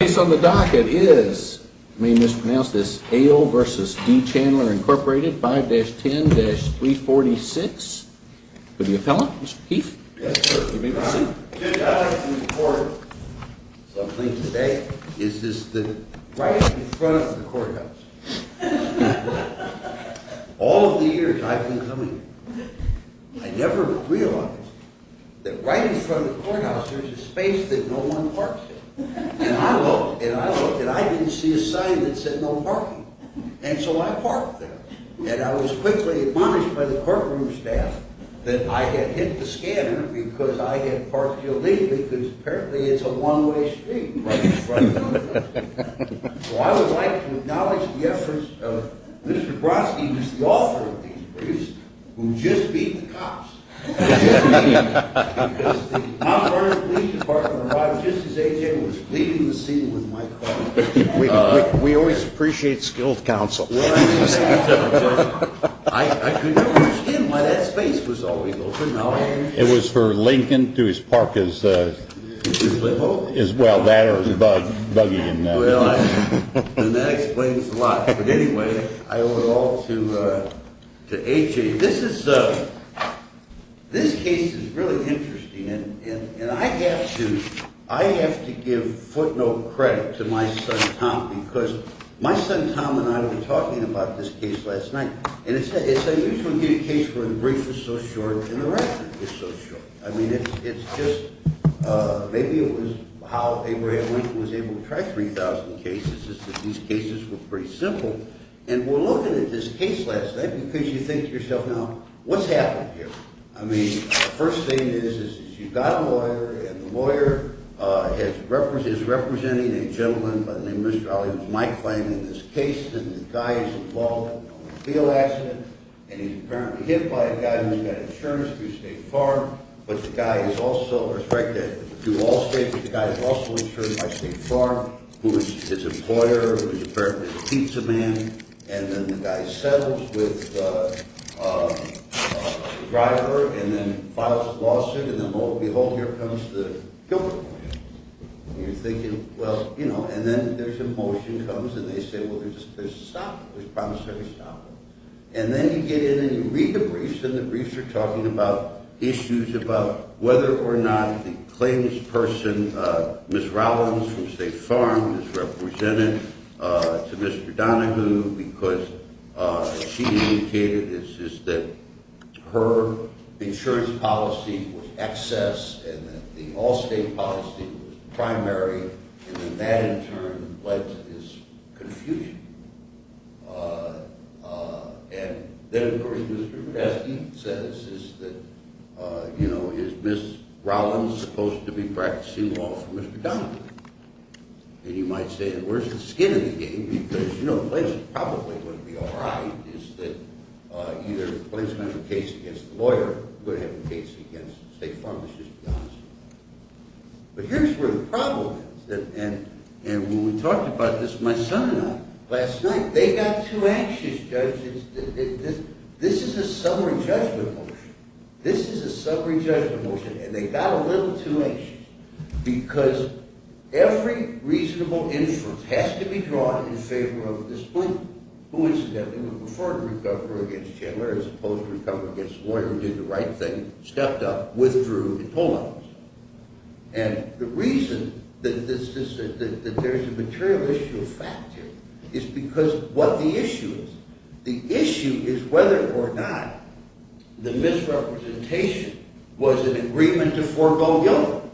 The case on the docket is, you may have mispronounced this, Ahle v. D. Chandler, Inc., 5-10-346, with the appellant, Mr. Keefe. Yes, sir. If you may proceed. I'd like to report something today. It's just that right in front of the courthouse, all of the years I've been coming here, I never realized that right in front of the courthouse there's a space that no one parks in. And I looked, and I looked, and I didn't see a sign that said no parking. And so I parked there. And I was quickly admonished by the courtroom staff that I had hit the scanner because I had parked illegally because apparently it's a one-way street right in front of the courthouse. So I would like to acknowledge the efforts of Mr. Brodsky, who's the author of these briefs, who just beat the cops. Because the Mount Vernon Police Department arrived just as AJ was leaving the scene with my car. We always appreciate skilled counsel. I couldn't understand why that space was always open. It was for Lincoln to his park as well. That explains a lot. But anyway, I owe it all to AJ. This case is really interesting. And I have to give footnote credit to my son Tom because my son Tom and I were talking about this case last night. And it's unusual to get a case where the brief is so short and the record is so short. I mean, it's just maybe it was how Abraham Lincoln was able to track 3,000 cases is that these cases were pretty simple. And we're looking at this case last night because you think to yourself, now, what's happened here? I mean, the first thing is, is you've got a lawyer and the lawyer is representing a gentleman by the name of Mr. Ali. It was my claim in this case. And the guy is involved in a field accident. And he's apparently hit by a guy who's got insurance through State Farm. But the guy is also, correct me if I'm wrong, through Allstate. But the guy is also insured by State Farm, who is his employer, who is apparently a pizza man. And then the guy settles with the driver and then files a lawsuit. And then, lo and behold, here comes the guilty motion. And you're thinking, well, you know, and then there's a motion comes and they say, well, there's a stop. There's a promissory stop. And then you get in and you read the briefs, and the briefs are talking about issues about whether or not the claims person, Ms. Rollins from State Farm is represented to Mr. Donahue because she indicated it's just that her insurance policy was excess and that the Allstate policy was primary. And then that in turn led to this confusion. And then the reason Mr. Medesky says is that, you know, is Ms. Rollins supposed to be practicing law for Mr. Donahue? And you might say, well, where's the skin in the game? Because, you know, the place probably wouldn't be all right is that either the place would have a case against the lawyer, or it would have a case against State Farm, let's just be honest. But here's where the problem is. And when we talked about this, my son and I, last night, they got too anxious, judges. This is a summary judgment motion. This is a summary judgment motion, and they got a little too anxious because every reasonable inference has to be drawn in favor of this point. Who, incidentally, would prefer to recover against Chandler as opposed to recover against the lawyer who did the right thing, stepped up, withdrew, and pulled on us. And the reason that there's a material issue of fact here is because of what the issue is. The issue is whether or not the misrepresentation was an agreement to forego government.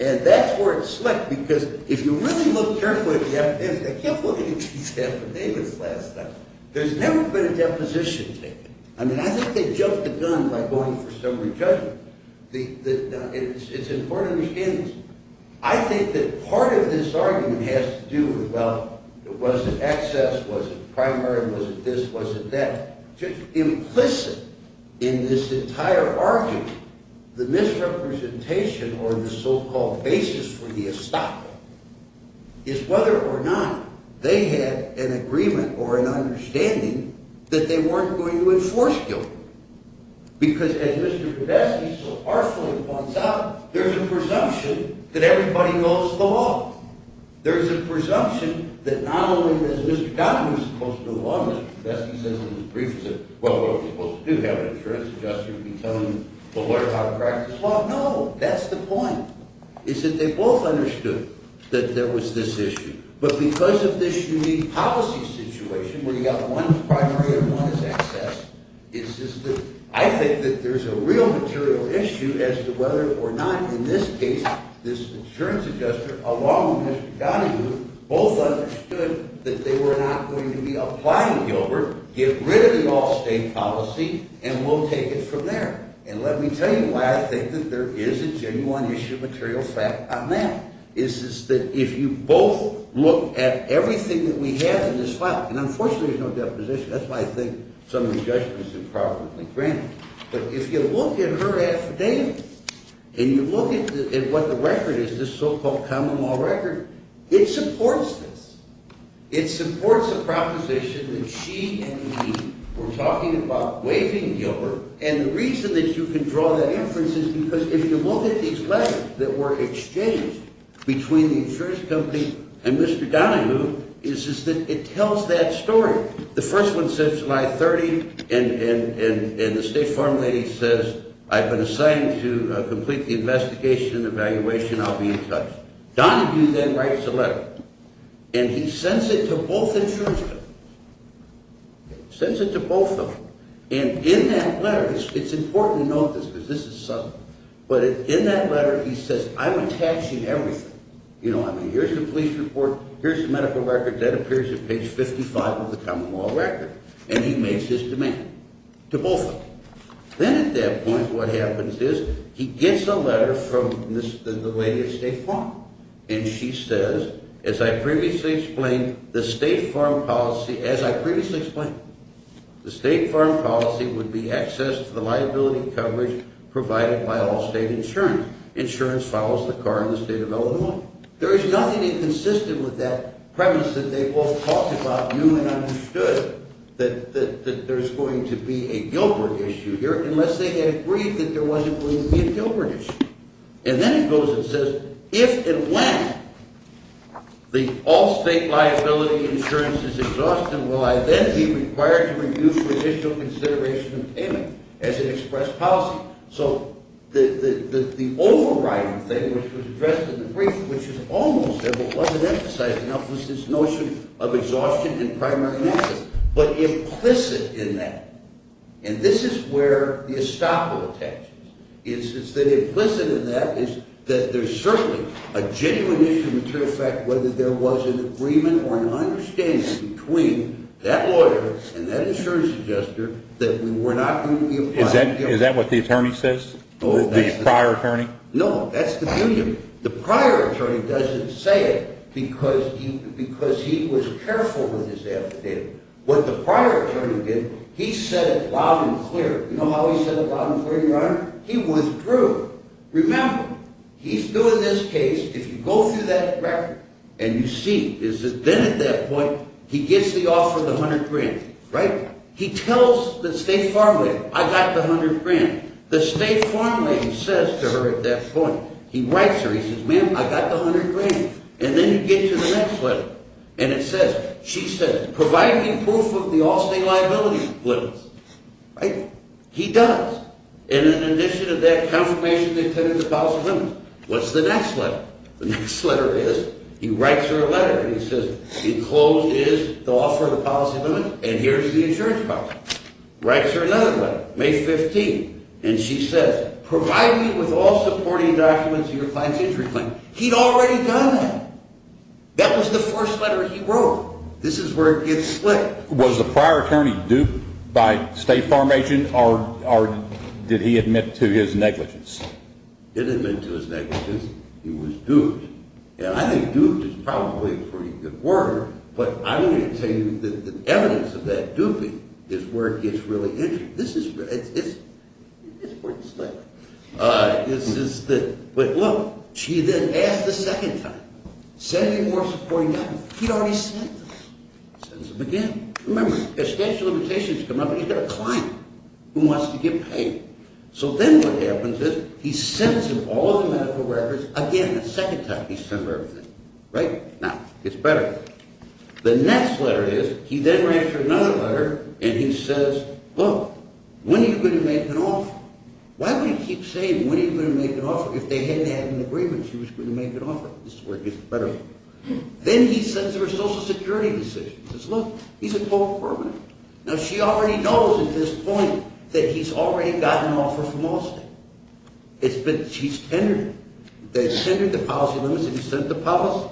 And that's where it slipped, because if you really look carefully at the evidence, I kept looking at these affidavits last night, there's never been a deposition taken. I mean, I think they jumped the gun by going for summary judgment. It's important to understand this. I think that part of this argument has to do with, well, was it excess? Was it primary? Was it this? Was it that? Implicit in this entire argument, the misrepresentation or the so-called basis for the estoppel is whether or not they had an agreement or an understanding that they weren't going to enforce government. Because, as Mr. Podesta so harshly points out, there's a presumption that everybody knows the law. There's a presumption that not only is Mr. Donahue supposed to know the law, Mr. Podesta says in his briefs that, well, we're supposed to have an insurance adjuster who can tell the lawyer how to practice law. No, that's the point, is that they both understood that there was this issue. But because of this unique policy situation where you've got one primary and one is excess, it's just that I think that there's a real material issue as to whether or not, in this case, this insurance adjuster along with Mr. Donahue both understood that they were not going to be applying Gilbert, get rid of the off-state policy, and we'll take it from there. And let me tell you why I think that there is a genuine issue of material fact on that. It's just that if you both look at everything that we have in this file, and unfortunately there's no deposition. That's why I think some of the judgment is improperly granted. But if you look at her affidavit and you look at what the record is, this so-called common law record, it supports this. It supports the proposition that she and me were talking about waiving Gilbert. And the reason that you can draw that inference is because if you look at these letters that were exchanged between the insurance company and Mr. Donahue is that it tells that story. The first one says July 30, and the State Farm lady says, I've been assigned to complete the investigation and evaluation. I'll be in touch. Donahue then writes a letter, and he sends it to both insurance companies. Sends it to both of them. And in that letter, it's important to note this because this is subtle, but in that letter he says, I'm attaching everything. You know, I mean, here's the police report, here's the medical record. That appears at page 55 of the common law record. And he makes his demand to both of them. Then at that point what happens is he gets a letter from the lady at State Farm. And she says, as I previously explained, the State Farm policy, as I previously explained, the State Farm policy would be access to the liability coverage provided by all state insurance. Insurance follows the car in the state of Illinois. There is nothing inconsistent with that premise that they both talked about, knew and understood, that there's going to be a Gilbert issue here unless they had agreed that there wasn't going to be a Gilbert issue. And then he goes and says, if and when the all state liability insurance is exhausted, will I then be required to reduce additional consideration of payment as an express policy? So the overriding thing, which was addressed in the brief, which is almost there but wasn't emphasized enough, was this notion of exhaustion and primary access. But implicit in that, and this is where the estoppel attaches, is that implicit in that is that there's certainly a genuine issue to affect whether there was an agreement or an understanding between that lawyer and that insurance adjuster that we were not going to be applying Gilbert. Is that what the attorney says? The prior attorney? No, that's the union. The prior attorney doesn't say it because he was careful with his affidavit. What the prior attorney did, he said it loud and clear. You know how he said it loud and clear, Your Honor? He withdrew. Remember, he's doing this case, if you go through that record and you see, then at that point he gets the offer of the 100 grand, right? He tells the state farm lady, I got the 100 grand. The state farm lady says to her at that point, he writes her, he says, ma'am, I got the 100 grand. And then you get to the next letter. And it says, she says, provide me proof of the all-state liability limits. Right? He does. And in addition to that, confirmation to attend to the policy limits. What's the next letter? The next letter is, he writes her a letter, and he says, enclosed is the offer of the policy limits, and here's the insurance policy. Writes her another letter, May 15, and she says, provide me with all supporting documents of your client's injury claim. He'd already done that. That was the first letter he wrote. This is where it gets slick. Was the prior attorney duped by state farm agent, or did he admit to his negligence? Didn't admit to his negligence. He was duped. And I think duped is probably a pretty good word, but I'm going to tell you that the evidence of that duping is where it gets really interesting. This is where it gets slick. But look, she then asks the second time, send me more supporting documents. He'd already sent them. Sends them again. Remember, a statute of limitations has come up, and you've got a client who wants to get paid. So then what happens is he sends him all the medical records again the second time he sends everything. Right? Now, it's better. The next letter is, he then writes her another letter, and he says, look, when are you going to make an offer? Why would he keep saying when are you going to make an offer if they hadn't had an agreement she was going to make an offer? This is where it gets better. Then he sends her a social security decision. He says, look, he's a co-operative. Now, she already knows at this point that he's already gotten an offer from Allstate. He's tendered it. They've tendered the policy limits, and he's sent the policy.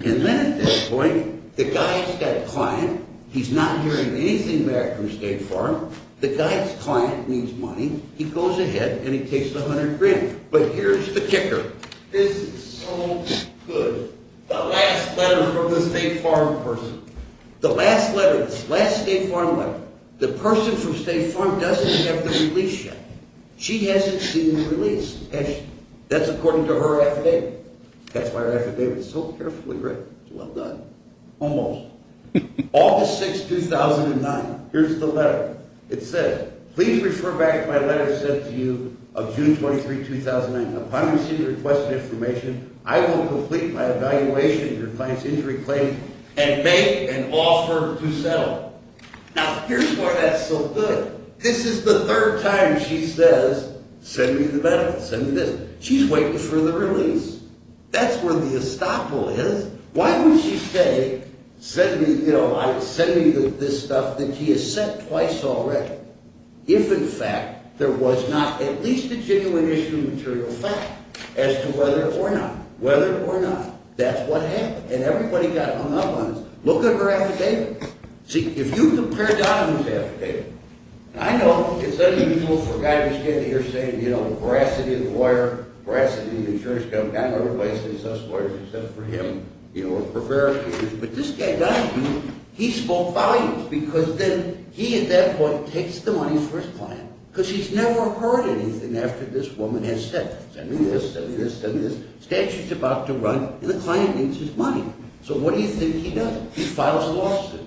And then at this point, the guy's got a client. He's not hearing anything back from State Farm. The guy's client needs money. He goes ahead, and he takes the 100 grand. But here's the kicker. This is so good. The last letter from the State Farm person. The last letter, the last State Farm letter. The person from State Farm doesn't have the release yet. She hasn't seen the release. That's according to her affidavit. That's why her affidavit is so carefully written. It's well done. Almost. August 6, 2009. Here's the letter. It says, please refer back to my letter I sent to you of June 23, 2009. Upon receiving your request of information, I will complete my evaluation of your client's injury claim and make an offer to settle. Now, here's why that's so good. This is the third time she says, send me the benefits, send me this. She's waiting for the release. That's where the estoppel is. Why would she say, send me this stuff that he has sent twice already, if in fact there was not at least a genuine issue of material fact as to whether or not, whether or not, that's what happened. And everybody got hung up on this. Look at her affidavit. See, if you compare Donovan's affidavit, and I know it's unequal for a guy who's standing here saying, you know, veracity of the lawyer, veracity of the insurance company, I'm not going to replace these us lawyers except for him, you know, or prepare our kids, but this guy Donovan, he spoke volumes because then he at that point takes the money for his client because he's never heard anything after this woman has said, send me this, send me this, send me this. Statute's about to run and the client needs his money. So what do you think he does? He files a lawsuit.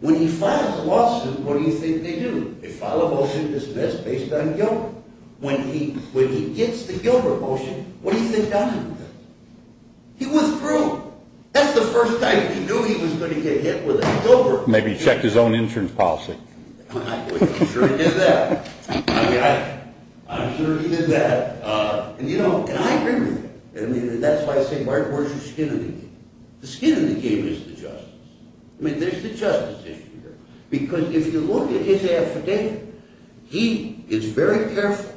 When he files a lawsuit, what do you think they do? They file a motion to dismiss based on Gilbert. When he gets the Gilbert motion, what do you think Donovan does? He withdrew. That's the first time he knew he was going to get hit with a Gilbert motion. Maybe he checked his own insurance policy. I'm sure he did that. I'm sure he did that. And, you know, and I agree with him. I mean, that's why I say where's your skin in the game? The skin in the game is the justice. I mean, there's the justice issue here because if you look at his affidavit, he is very careful.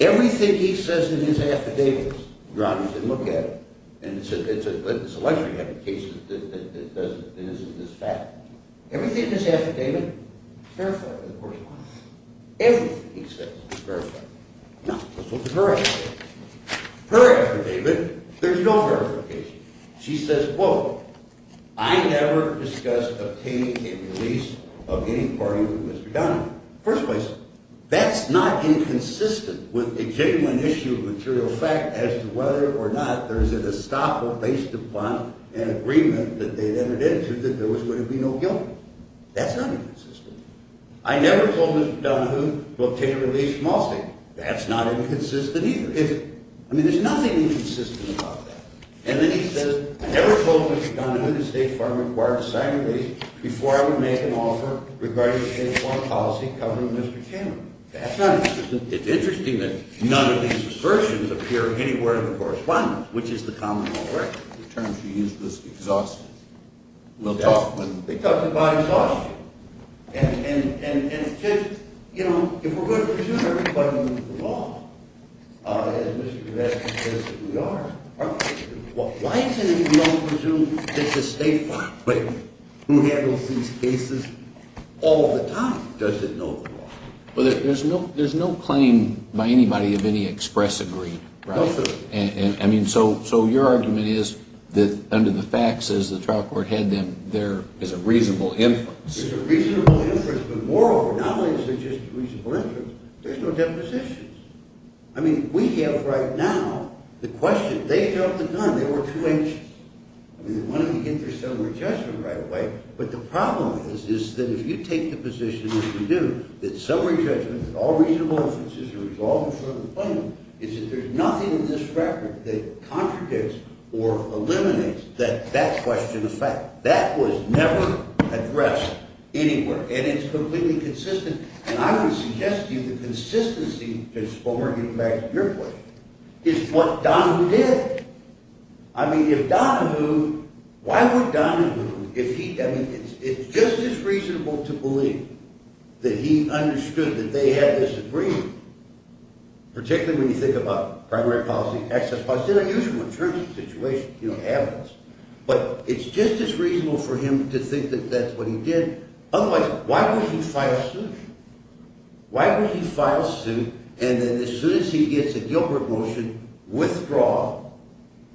Everything he says in his affidavit, rather than look at it, and it's a luxury having cases that doesn't, isn't this fact. Everything in his affidavit is verified by the court of law. Everything he says is verified. Now, let's look at her affidavit. Her affidavit, there's no verification. She says, quote, I never discussed obtaining a release of any party with Mr. Donovan. First place, that's not inconsistent with executing an issue of material fact as to whether or not there's an estoppel based upon an agreement that they'd entered into that there was going to be no guilt. That's not inconsistent. I never told Mr. Donovan to obtain a release from Allstate. That's not inconsistent either. I mean, there's nothing inconsistent about that. And then he says, I never told Mr. Donovan that State Farm required to sign a release before I would make an offer regarding State Farm policy covering Mr. Cameron. That's not inconsistent. It's interesting that none of these assertions appear anywhere in the correspondence, which is the common law. In terms of useless exhaustion. We'll talk when... They talk about exhaustion. And it's just, you know, if we're going to presume everybody knows the law, as Mr. Donovan says that we are, why is it that we don't presume that the State Farm, who handles these cases all the time, doesn't know the law? Well, there's no claim by anybody of any express agreement. No sir. I mean, so your argument is that under the facts, as the trial court had them, there is a reasonable inference. There's a reasonable inference, but moreover, not only is there just a reasonable inference, there's no depositions. I mean, we have right now the question, they felt the gun, they were too anxious. I mean, they wanted to get their summary judgment right away. But the problem is that if you take the position that you do, that summary judgment, that all reasonable inferences are resolved in front of the plaintiff, is that there's nothing in this record that contradicts or eliminates that question of fact. That was never addressed anywhere, and it's completely consistent. And I would suggest to you the consistency, just to get back to your point, is what Donohue did. I mean, if Donohue... Why would Donohue, if he... I mean, it's just as reasonable to believe that he understood that they had this agreement, particularly when you think about primary policy, access policy. It's an unusual situation, you don't have this. But it's just as reasonable for him to think that that's what he did. Otherwise, why would he file a suit? Why would he file a suit, and then as soon as he gets a Gilbert motion, withdraw,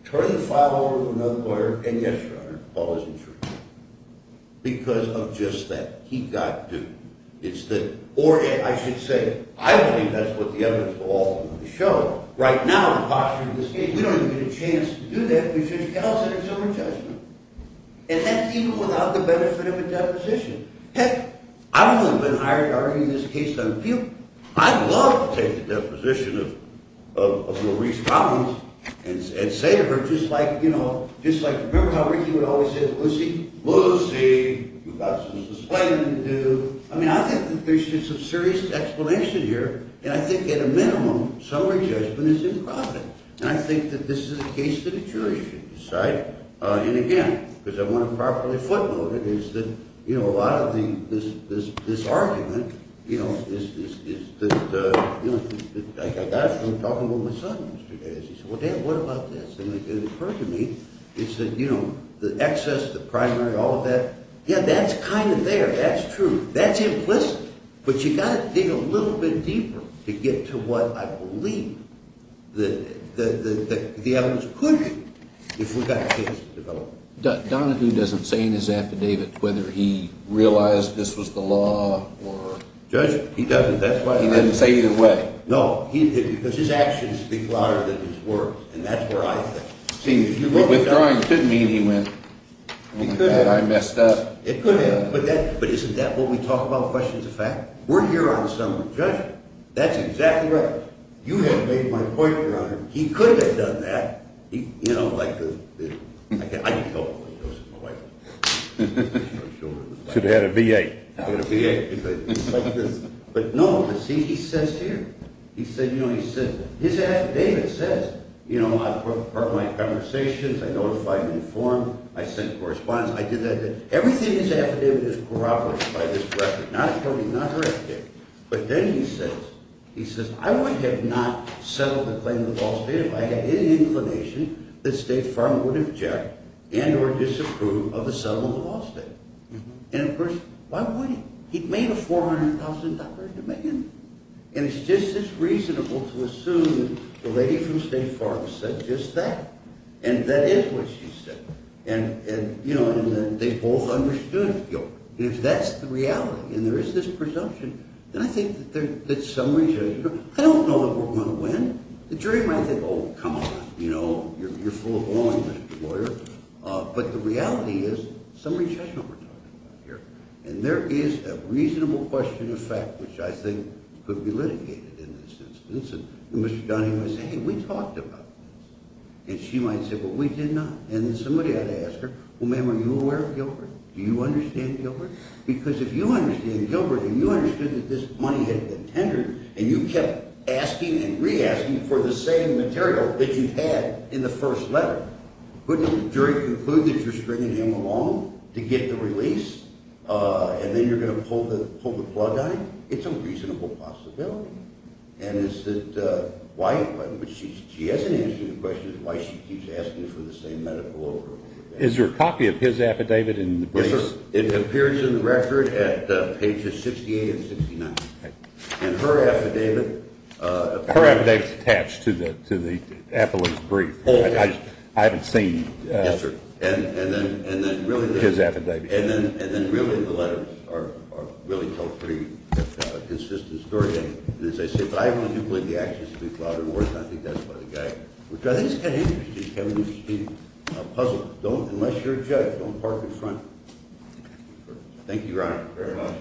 turn the file over to another lawyer, and, yes, Your Honor, Paul is insured, because of just that. Or, I should say, I believe that's what the evidence will often show. Right now, in the posture of this case, we don't even get a chance to do that. We should just call it a sober judgment. And that's even without the benefit of a deposition. Heck, I wouldn't have been hired to argue this case on appeal. I'd love to take the deposition of Maurice Collins and say to her, just like, you know, just like... Remember how Ricky would always say to Lucy, Lucy, you've got some suspending to do. I mean, I think that there should be some serious explanation here. And I think, at a minimum, sober judgment is improper. And I think that this is a case that a jury should decide. And, again, because I want to properly footnote it, is that, you know, a lot of this argument, you know, is that... I got it from talking to my son yesterday. He said, well, Dan, what about this? And it occurred to me, he said, you know, the excess, the primary, all of that. Yeah, that's kind of there. That's true. That's implicit. But you've got to dig a little bit deeper to get to what I believe the evidence could be if we've got a case to develop. Donahue doesn't say in his affidavit whether he realized this was the law or... Judge, he doesn't. That's why I... He doesn't say either way. No. Because his actions speak louder than his words. And that's where I think. Withdrawing couldn't mean he went, oh, my God, I messed up. It could have. But isn't that what we talk about, questions of fact? We're here on summary judgment. That's exactly right. You haven't made my point, Your Honor. He could have done that. You know, like the... I can tell you what he does to my wife. Should have had a B.A. I got a B.A. But, no, see, he says here. He said, you know, his affidavit says, you know, I put my conversations, I notified and informed, I sent correspondence. I did that. Everything in his affidavit is corroborated by this record. Not a copy, not her affidavit. But then he says, he says, I would have not settled the claim of the law state if I had any inclination that State Farm would object and or disapprove of the settlement of the law state. And, of course, why would he? He'd made a $400,000 demand. And it's just as reasonable to assume the lady from State Farm said just that. And that is what she said. And, you know, they both understood. If that's the reality and there is this presumption, then I think that summary judgment... I don't know that we're going to win. The jury might think, oh, come on, you know, you're full of oil, you're a lawyer. But the reality is summary judgment we're talking about here. And there is a reasonable question of fact which I think could be litigated in this instance. And Mr. Donahue might say, hey, we talked about this. And she might say, well, we did not. And then somebody had to ask her, well, ma'am, are you aware of Gilbert? Do you understand Gilbert? Because if you understand Gilbert and you understood that this money had been tendered and you kept asking and re-asking for the same material that you had in the first letter, wouldn't the jury conclude that you're stringing him along to get the release? And then you're going to pull the plug on him? It's a reasonable possibility. And is that why? But she hasn't answered the question of why she keeps asking for the same medical over and over again. Is there a copy of his affidavit in the brief? Yes, sir. It appears in the record at pages 68 and 69. And her affidavit... Her affidavit is attached to the appellate's brief. I haven't seen his affidavit. And then, really, the letters really tell a pretty consistent story. And as I say, if I want to believe the actions to be flouted or not, I think that's by the guy. Which I think is kind of interesting, having you speak a puzzle. Unless you're a judge, don't park in front. Thank you, Your Honor. Very much.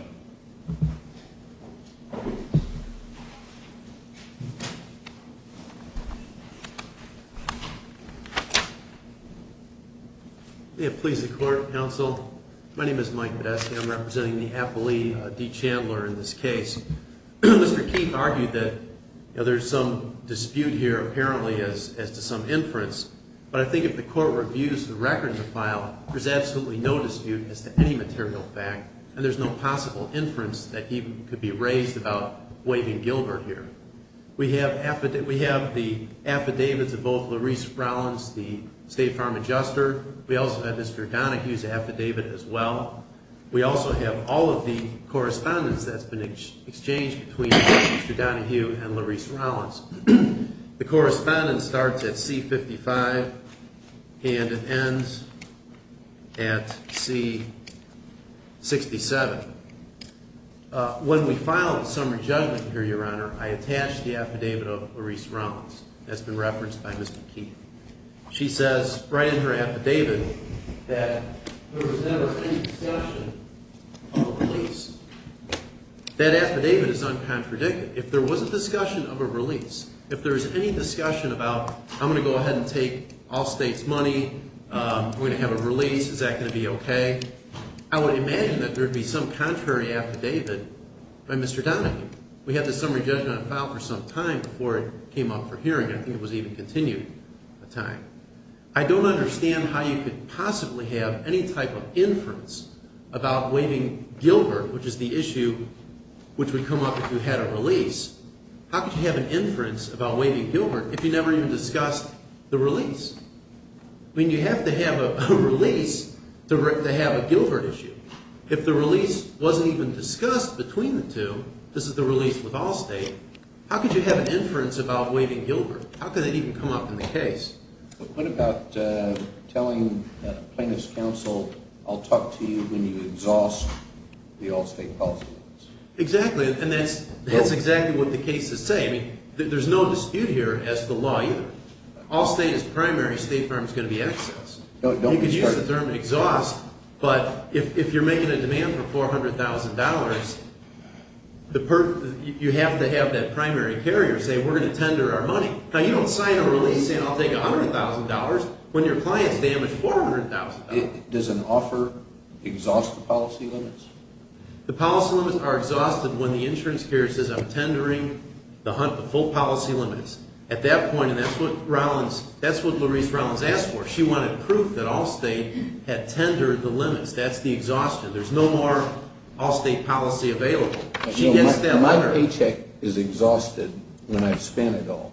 May it please the Court, Counsel. My name is Mike Badesky. I'm representing the appellee, Dee Chandler, in this case. Mr. Keith argued that there's some dispute here, apparently, as to some inference. But I think if the Court reviews the record in the file, there's absolutely no dispute as to any material fact. And there's no possible inference that he could be raised about waving Gilbert here. We have the affidavits of both Larise Rollins, the State Farm Adjuster. We also have Mr. Donohue's affidavit as well. We also have all of the correspondence that's been exchanged between Mr. Donohue and Larise Rollins. The correspondence starts at C-55 and it ends at C-67. When we file a summary judgment here, Your Honor, I attach the affidavit of Larise Rollins that's been referenced by Mr. Keith. She says right in her affidavit that there was never any discussion of a release. That affidavit is uncontradictive. If there was a discussion of a release, if there was any discussion about I'm going to go ahead and take all State's money, we're going to have a release, is that going to be okay? I would imagine that there would be some contrary affidavit by Mr. Donohue. We had this summary judgment on file for some time before it came up for hearing. I think it was even continued a time. I don't understand how you could possibly have any type of inference about waving Gilbert, which is the issue which would come up if you had a release. How could you have an inference about waving Gilbert if you never even discussed the release? I mean you have to have a release to have a Gilbert issue. If the release wasn't even discussed between the two, this is the release with all State, how could you have an inference about waving Gilbert? How could that even come up in the case? What about telling plaintiff's counsel I'll talk to you when you exhaust the all State policy? Exactly, and that's exactly what the case is saying. There's no dispute here as to the law either. All State is primary, State firm is going to be excess. You could use the term exhaust, but if you're making a demand for $400,000, you have to have that primary carrier say we're going to tender our money. Now you don't sign a release saying I'll take $100,000 when your client's damaged $400,000. Does an offer exhaust the policy limits? The policy limits are exhausted when the insurance carrier says I'm tendering the full policy limits. At that point, and that's what Louise Rollins asked for, she wanted proof that All State had tendered the limits. That's the exhaustion. There's no more All State policy available. My paycheck is exhausted when I've spent it all,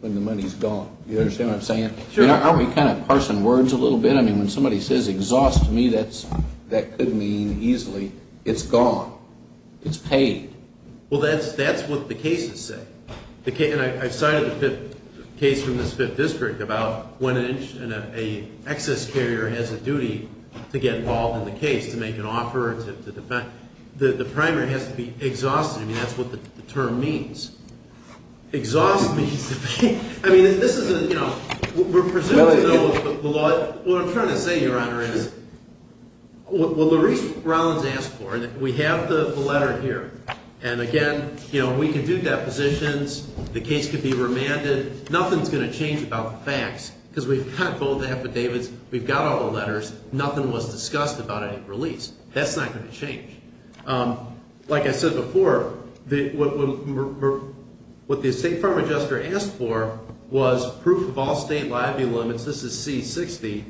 when the money's gone. You understand what I'm saying? Sure. Aren't we kind of parsing words a little bit? I mean when somebody says exhaust me, that could mean easily it's gone, it's paid. Well, that's what the case is saying. I cited the case from this fifth district about when an excess carrier has a duty to get involved in the case, to make an offer, to defend. The primary has to be exhausted. I mean that's what the term means. Exhaust means to be. I mean this isn't, you know, we're presumed to know the law. What I'm trying to say, Your Honor, is what Louise Rollins asked for, and we have the letter here. And again, you know, we can do depositions. The case could be remanded. Nothing's going to change about the facts because we've got both affidavits. We've got all the letters. Nothing was discussed about any release. That's not going to change. Like I said before, what the estate firm adjuster asked for was proof of All State liability limits. This is C-60,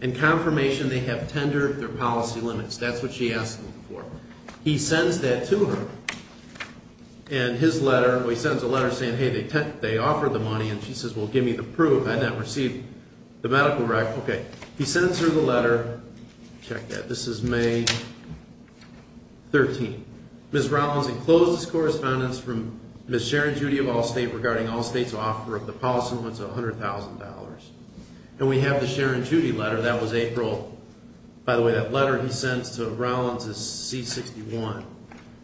and confirmation they have tendered their policy limits. That's what she asked for. He sends that to her, and his letter. He sends a letter saying, hey, they offered the money, and she says, well, give me the proof. I've not received the medical rec. Okay. He sends her the letter. Check that. This is May 13. Ms. Rollins enclosed this correspondence from Ms. Sharon Judy of All State regarding All State's offer of the policy limits of $100,000. And we have the Sharon Judy letter. That was April. By the way, that letter he sends to Rollins is C-61.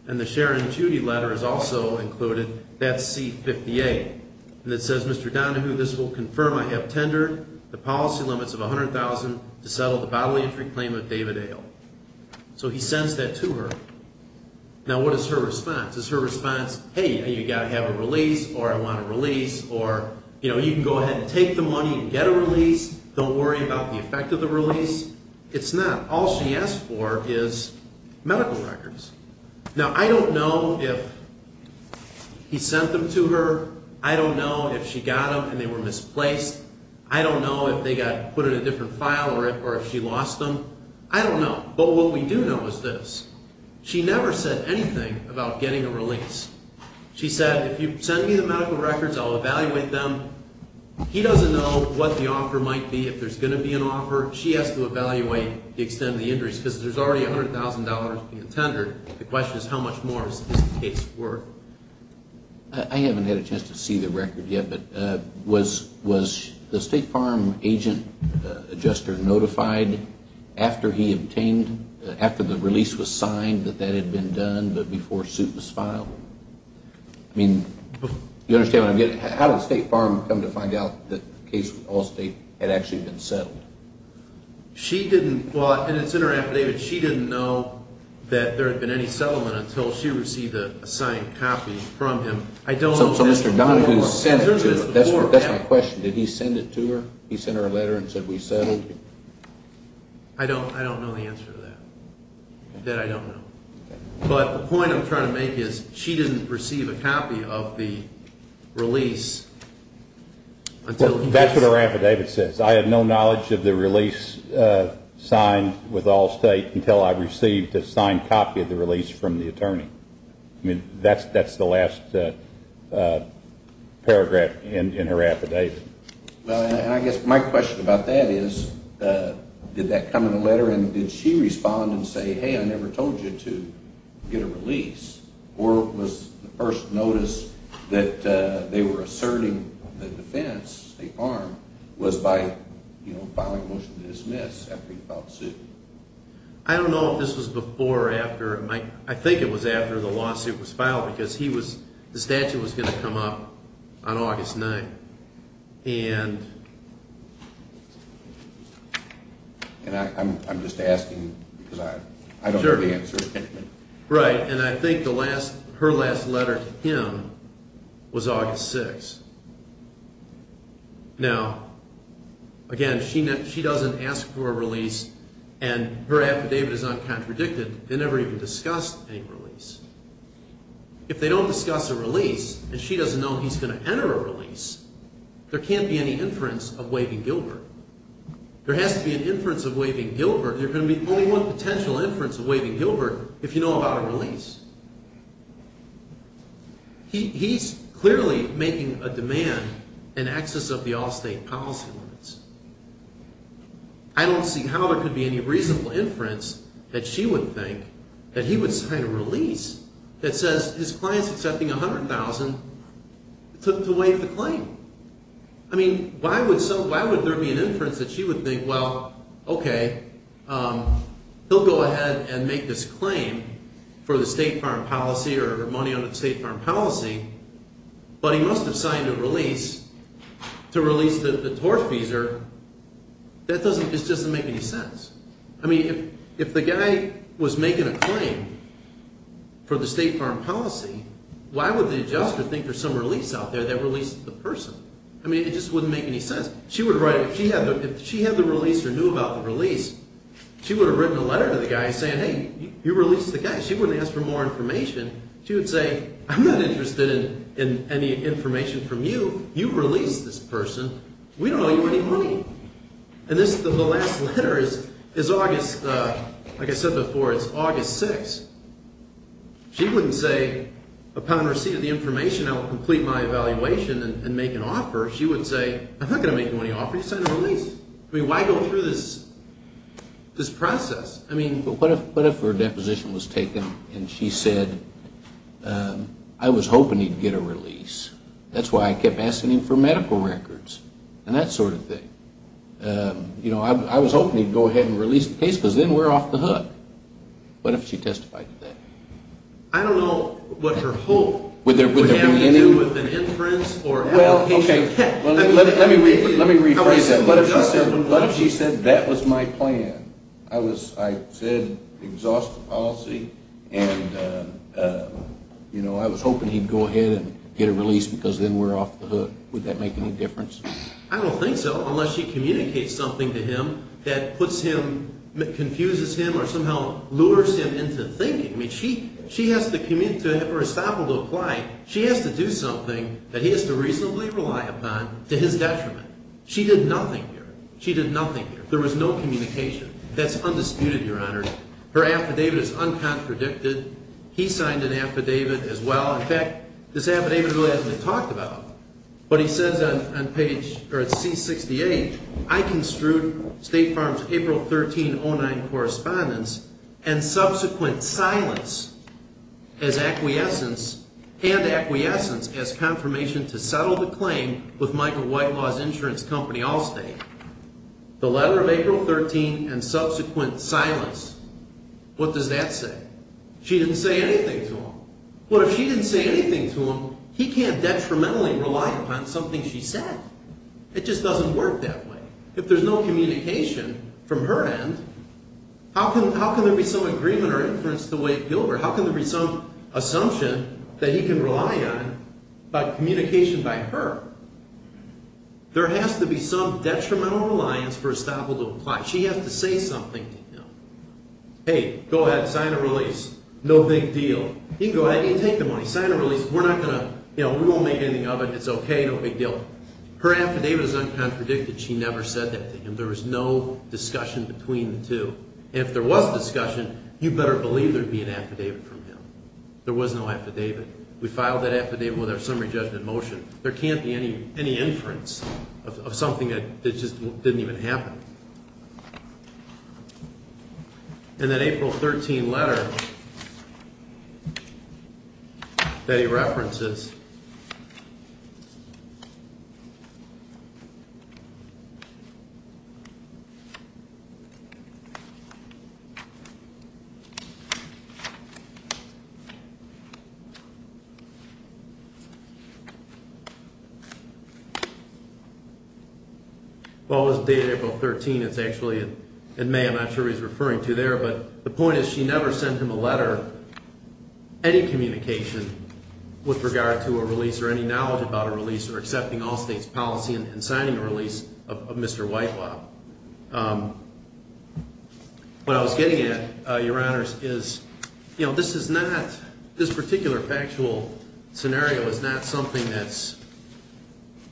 And the Sharon Judy letter is also included. That's C-58. And it says, Mr. Donahue, this will confirm I have tendered the policy limits of $100,000 to settle the bodily injury claim of David Ale. So he sends that to her. Now, what is her response? Is her response, hey, you've got to have a release, or I want a release, or, you know, you can go ahead and take the money and get a release. Don't worry about the effect of the release. It's not. All she asked for is medical records. Now, I don't know if he sent them to her. I don't know if she got them and they were misplaced. I don't know if they got put in a different file or if she lost them. I don't know. But what we do know is this. She never said anything about getting a release. She said, if you send me the medical records, I'll evaluate them. He doesn't know what the offer might be. If there's going to be an offer, she has to evaluate the extent of the injuries because there's already $100,000 being tendered. The question is how much more is the case worth? I haven't had a chance to see the record yet, but was the State Farm agent adjuster notified after he obtained, after the release was signed that that had been done, but before suit was filed? I mean, you understand what I'm getting at? How did the State Farm come to find out that the case with Allstate had actually been settled? She didn't. Well, and it's in her affidavit. She didn't know that there had been any settlement until she received a signed copy from him. I don't know. So Mr. Donahue sent it to her. That's my question. Did he send it to her? He sent her a letter and said, we settled? I don't know the answer to that, that I don't know. But the point I'm trying to make is she didn't receive a copy of the release until he did. That's what her affidavit says. I had no knowledge of the release signed with Allstate until I received a signed copy of the release from the attorney. I mean, that's the last paragraph in her affidavit. And I guess my question about that is, did that come in a letter and did she respond and say, hey, I never told you to get a release? Or was the first notice that they were asserting the defense, the farm, was by filing a motion to dismiss after he filed the suit? I don't know if this was before or after. I think it was after the lawsuit was filed because the statute was going to come up on August 9th. And I'm just asking because I don't know the answer. Right. And I think her last letter to him was August 6th. Now, again, she doesn't ask for a release and her affidavit is uncontradicted. They never even discussed any release. If they don't discuss a release and she doesn't know he's going to enter a release, there can't be any inference of waiving Gilbert. There has to be an inference of waiving Gilbert. There can be only one potential inference of waiving Gilbert if you know about a release. He's clearly making a demand in excess of the all-state policy limits. I don't see how there could be any reasonable inference that she would think that he would sign a release that says his client is accepting $100,000 to waive the claim. I mean, why would there be an inference that she would think, well, okay, he'll go ahead and make this claim for the state farm policy or money on the state farm policy, but he must have signed a release to release the torch feeser. That doesn't make any sense. I mean, if the guy was making a claim for the state farm policy, why would the adjuster think there's some release out there that releases the person? I mean, it just wouldn't make any sense. If she had the release or knew about the release, she would have written a letter to the guy saying, hey, you released the guy. She wouldn't ask for more information. She would say, I'm not interested in any information from you. You released this person. We don't owe you any money. And the last letter is August, like I said before, it's August 6th. She wouldn't say, upon receipt of the information, I will complete my evaluation and make an offer. She would say, I'm not going to make you any offer. You signed a release. I mean, why go through this process? I mean, but what if her deposition was taken and she said, I was hoping he'd get a release. That's why I kept asking him for medical records and that sort of thing. You know, I was hoping he'd go ahead and release the case because then we're off the hook. What if she testified to that? I don't know what her hope would have to do with an inference or how he should have kept it. Let me rephrase that. What if she said, that was my plan. I said, exhaust the policy. And, you know, I was hoping he'd go ahead and get a release because then we're off the hook. Would that make any difference? I don't think so, unless she communicates something to him that puts him, confuses him or somehow lures him into thinking. I mean, she has to communicate to him or estoppel to apply, she has to do something that he has to reasonably rely upon to his detriment. She did nothing here. She did nothing here. There was no communication. That's undisputed, Your Honor. Her affidavit is uncontradicted. He signed an affidavit as well. In fact, this affidavit really hasn't been talked about. But he says on page, or at C68, I construed State Farm's April 13, 09 correspondence and subsequent silence as acquiescence and acquiescence as confirmation to settle the claim with Michael White Law's insurance company Allstate. The letter of April 13 and subsequent silence. What does that say? She didn't say anything to him. Well, if she didn't say anything to him, he can't detrimentally rely upon something she said. It just doesn't work that way. If there's no communication from her end, how can there be some agreement or inference to White-Gilbert? How can there be some assumption that he can rely on, but communication by her? There has to be some detrimental reliance for Estoppel to apply. She has to say something to him. Hey, go ahead, sign a release. No big deal. You can go ahead. You can take the money. Sign a release. We're not going to, you know, we won't make anything of it. It's okay. No big deal. Her affidavit is uncontradicted. She never said that to him. There was no discussion between the two. And if there was discussion, you better believe there would be an affidavit from him. There was no affidavit. We filed that affidavit with our summary judge in motion. There can't be any inference of something that just didn't even happen. And that April 13 letter that he references. Okay. Well, it was dated April 13. It's actually in May. I'm not sure what he's referring to there. But the point is she never sent him a letter, any communication, with regard to a release or any knowledge about a release or accepting all state's policy and signing a release of Mr. Whitewap. What I was getting at, Your Honors, is, you know, this is not, this particular factual scenario is not something that's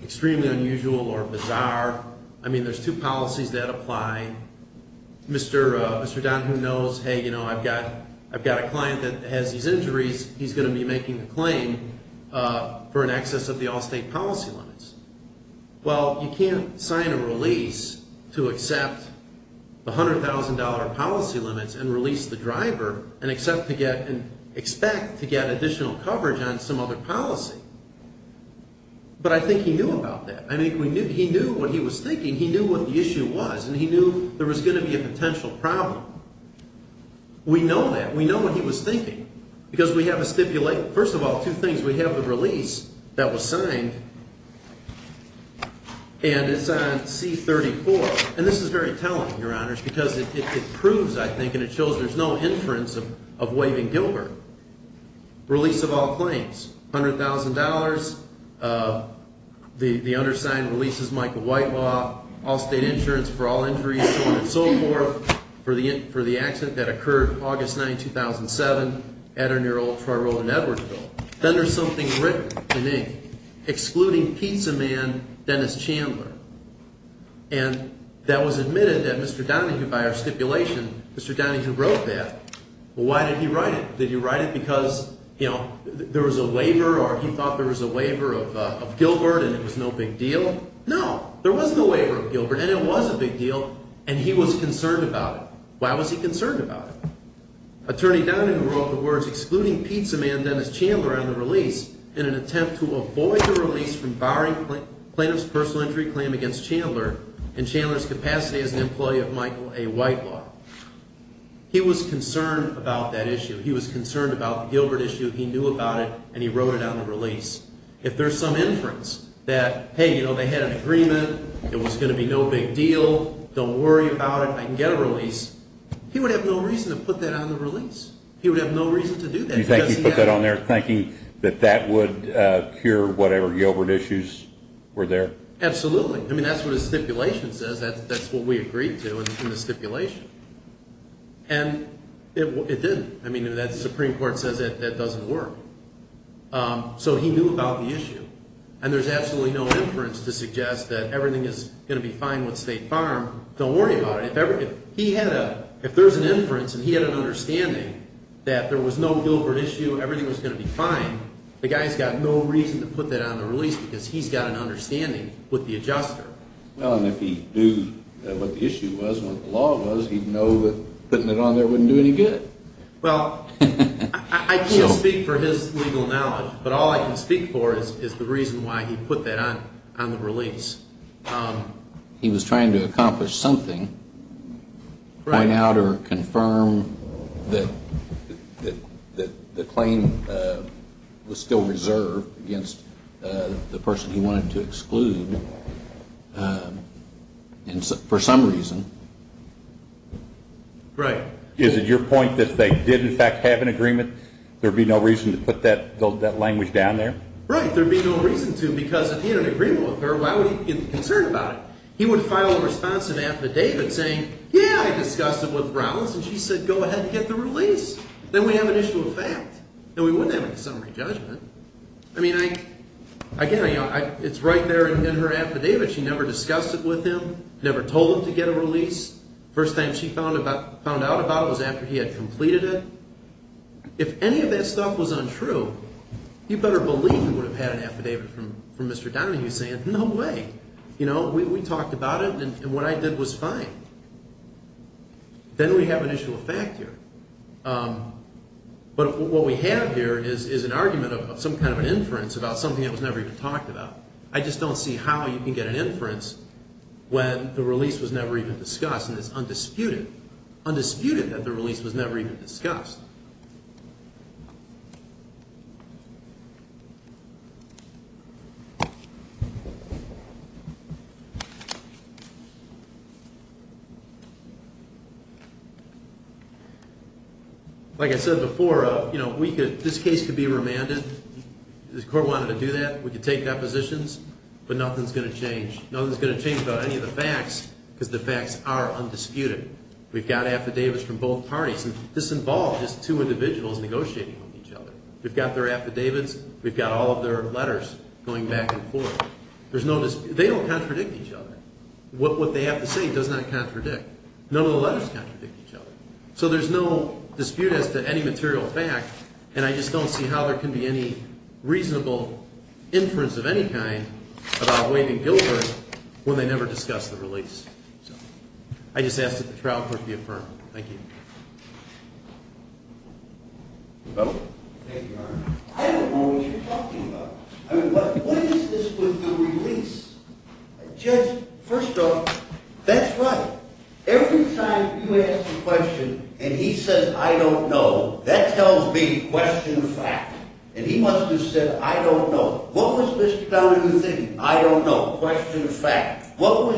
extremely unusual or bizarre. I mean, there's two policies that apply. Mr. Donohue knows, hey, you know, I've got a client that has these injuries. He's going to be making a claim for an excess of the all state policy limits. Well, you can't sign a release to accept the $100,000 policy limits and release the driver and expect to get additional coverage on some other policy. But I think he knew about that. I mean, he knew what he was thinking. He knew what the issue was, and he knew there was going to be a potential problem. We know that. Because we have a stipulate. First of all, two things. We have the release that was signed, and it's on C-34. And this is very telling, Your Honors, because it proves, I think, and it shows there's no inference of waving Gilbert. Release of all claims, $100,000, the undersigned release is Michael Whitewap, all state insurance for all injuries, so on and so forth, for the accident that occurred August 9, 2007 at or near Old Troy Road in Edwardsville. Then there's something written in ink, excluding pizza man Dennis Chandler. And that was admitted that Mr. Donohue, by our stipulation, Mr. Donohue wrote that. Well, why did he write it? Did he write it because, you know, there was a waiver, or he thought there was a waiver of Gilbert and it was no big deal? No. There was no waiver of Gilbert, and it was a big deal, and he was concerned about it. Why was he concerned about it? Attorney Donohue wrote the words, excluding pizza man Dennis Chandler on the release in an attempt to avoid the release from barring plaintiff's personal injury claim against Chandler in Chandler's capacity as an employee of Michael A. Whitewap. He was concerned about that issue. He was concerned about the Gilbert issue. He knew about it, and he wrote it on the release. If there's some inference that, hey, you know, they had an agreement, it was going to be no big deal, don't worry about it, I can get a release, he would have no reason to put that on the release. He would have no reason to do that. You think he put that on there thinking that that would cure whatever Gilbert issues were there? Absolutely. I mean, that's what his stipulation says. That's what we agreed to in the stipulation. And it didn't. I mean, the Supreme Court says that doesn't work. So he knew about the issue. And there's absolutely no inference to suggest that everything is going to be fine with State Farm. Don't worry about it. If there's an inference and he had an understanding that there was no Gilbert issue, everything was going to be fine, the guy's got no reason to put that on the release because he's got an understanding with the adjuster. Well, and if he knew what the issue was and what the law was, he'd know that putting it on there wouldn't do any good. Well, I can't speak for his legal knowledge, but all I can speak for is the reason why he put that on the release. He was trying to accomplish something, point out or confirm that the claim was still reserved against the person he wanted to exclude for some reason. Right. Is it your point that if they did, in fact, have an agreement, there would be no reason to put that language down there? Right. There would be no reason to because if he had an agreement with her, why would he be concerned about it? He would file a responsive affidavit saying, yeah, I discussed it with Rowlands, and she said go ahead and get the release. Then we have an issue of fact. Then we wouldn't have a summary judgment. I mean, again, it's right there in her affidavit. She never discussed it with him, never told him to get a release. First time she found out about it was after he had completed it. If any of that stuff was untrue, you better believe you would have had an affidavit from Mr. Downing saying, no way, we talked about it and what I did was fine. Then we have an issue of fact here. But what we have here is an argument of some kind of an inference about something that was never even talked about. I just don't see how you can get an inference when the release was never even discussed and it's undisputed, undisputed that the release was never even discussed. Like I said before, this case could be remanded. The court wanted to do that. We could take depositions, but nothing is going to change. Nothing is going to change about any of the facts, because the facts are undisputed. We've got affidavits from both parties. This involved just two individuals negotiating with each other. We've got their affidavits. We've got all of their letters going back and forth. They don't contradict each other. What they have to say does not contradict. None of the letters contradict each other. So there's no dispute as to any material fact, and I just don't see how there can be any reasonable inference of any kind about Wade and Gilbert when they never discussed the release. I just ask that the trial court be affirmed. Thank you. Thank you, Your Honor. I don't know what you're talking about. I mean, what is this with the release? Judge, first off, that's right. Every time you ask a question and he says, I don't know, that tells me question fact. And he must have said, I don't know. What was Mr. Donohue thinking? I don't know, question of fact. What was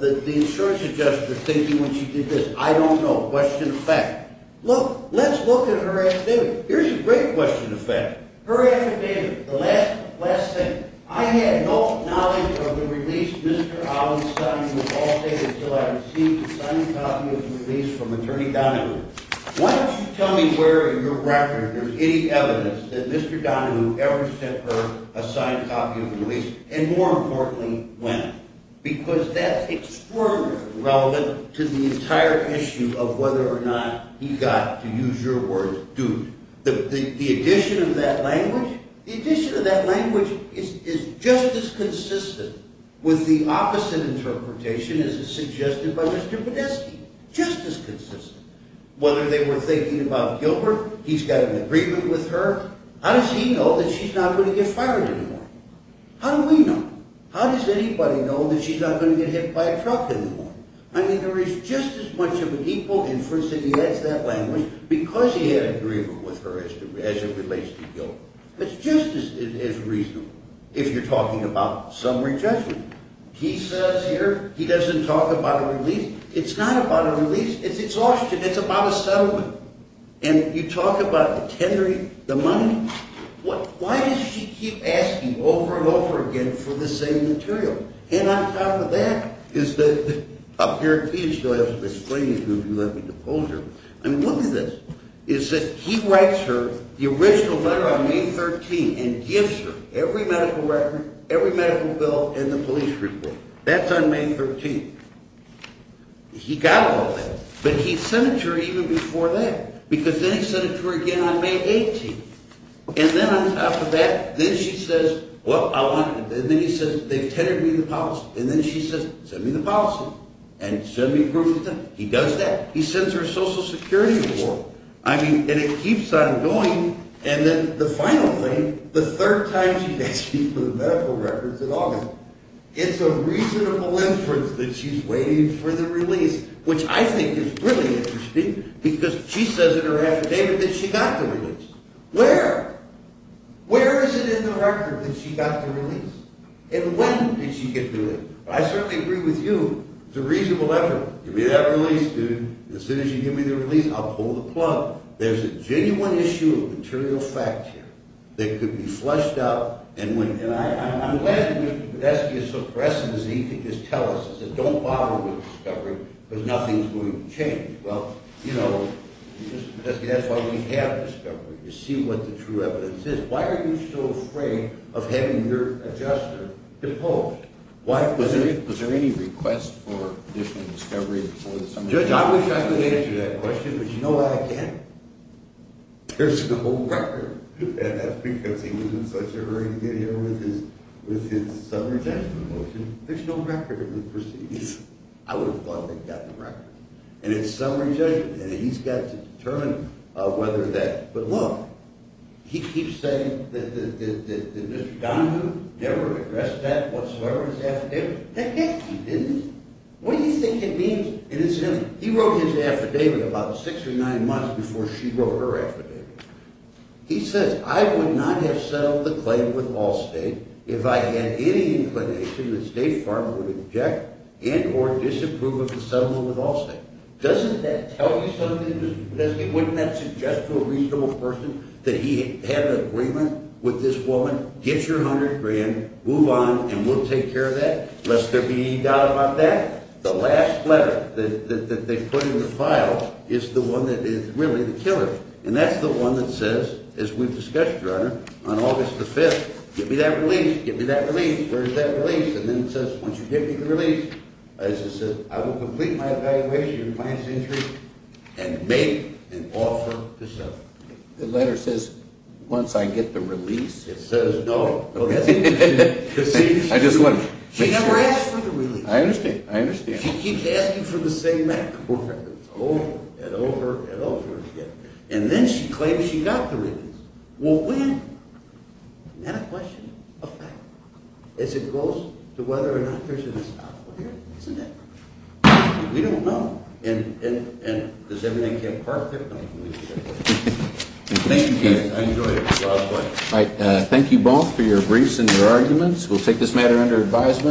the insurance adjuster thinking when she did this? I don't know, question of fact. Look, let's look at her affidavit. Here's a great question of fact. Her affidavit, the last thing. I had no knowledge of the release, Mr. Allen's son, until I received a signed copy of the release from Attorney Donohue. Why don't you tell me where in your record there's any evidence that Mr. Donohue ever sent her a signed copy of the release, and more importantly, when? Because that's extraordinarily relevant to the entire issue of whether or not he got, to use your words, duped. The addition of that language, the addition of that language is just as consistent with the opposite interpretation as is suggested by Mr. Podesky, just as consistent. Whether they were thinking about Gilbert, he's got an agreement with her. How does he know that she's not going to get fired anymore? How do we know? How does anybody know that she's not going to get hit by a truck anymore? I mean, there is just as much of an equal inference if he adds that language because he had an agreement with her as it relates to Gilbert. It's just as reasonable if you're talking about summary judgment. He says here, he doesn't talk about a release. It's not about a release. It's Austrian, it's about a settlement. And you talk about the tendering, the money. Why does she keep asking over and over again for the same material? And on top of that is that up here, he is going to have to explain to you who you have to depose her. I mean, look at this. He writes her the original letter on May 13th and gives her every medical record, every medical bill, and the police report. That's on May 13th. He got all that. But he sent it to her even before that because then he sent it to her again on May 18th. And then on top of that, then she says, well, I want to, and then he says, they've tendered me the policy. And then she says, send me the policy and send me proof of that. He does that. He sends her a Social Security award. I mean, and it keeps on going. And then the final thing, the third time she's asked me for the medical records in August. It's a reasonable inference that she's waiting for the release, which I think is really interesting because she says in her affidavit that she got the release. Where? Where is it in the record that she got the release? And when did she get the release? I certainly agree with you. It's a reasonable effort. Give me that release, dude. As soon as you give me the release, I'll pull the plug. There's a genuine issue of material fact here that could be fleshed out. And I'm glad that you're suppressing this because he could just tell us, he said, don't bother with discovery because nothing's going to change. Well, you know, that's why we have discovery, to see what the true evidence is. Why are you so afraid of having your adjuster deposed? Was there any request for additional discovery? Judge, I wish I could answer that question, but you know why I can't? There's no record. And that's because he was in such a hurry to get here with his summary judgment motion. There's no record of the proceedings. I would have thought they'd gotten the record. And it's summary judgment. And he's got to determine whether that. But look, he keeps saying that Mr. Donahue never addressed that whatsoever in his affidavit. Heck, yes, he did. What do you think it means? And it's him. He wrote his affidavit about six or nine months before she wrote her affidavit. He says, I would not have settled the claim with Allstate if I had any inclination that State Farm would object and or disapprove of the settlement with Allstate. Doesn't that tell you something? Wouldn't that suggest to a reasonable person that he had an agreement with this woman? Get your $100,000, move on, and we'll take care of that, lest there be any doubt about that? The last letter that they put in the file is the one that is really the killer. And that's the one that says, as we've discussed, Your Honor, on August the 5th, give me that release. Give me that release. Where's that release? And then it says, once you give me the release, as it says, I will complete my evaluation of my insurance and make an offer to settle. The letter says, once I get the release. It says no. No, that's it. I just want to make sure. She never asked for the release. I understand. I understand. And she keeps asking for the same records over and over and over again. And then she claims she got the release. Well, when? Not a question. A fact. As it goes to whether or not there's an assault here, isn't it? We don't know. And does everything get perfect? No, it doesn't. Thank you. I enjoyed it. It was a lot of fun. Thank you both for your briefs and your arguments. We'll take this matter under advisement.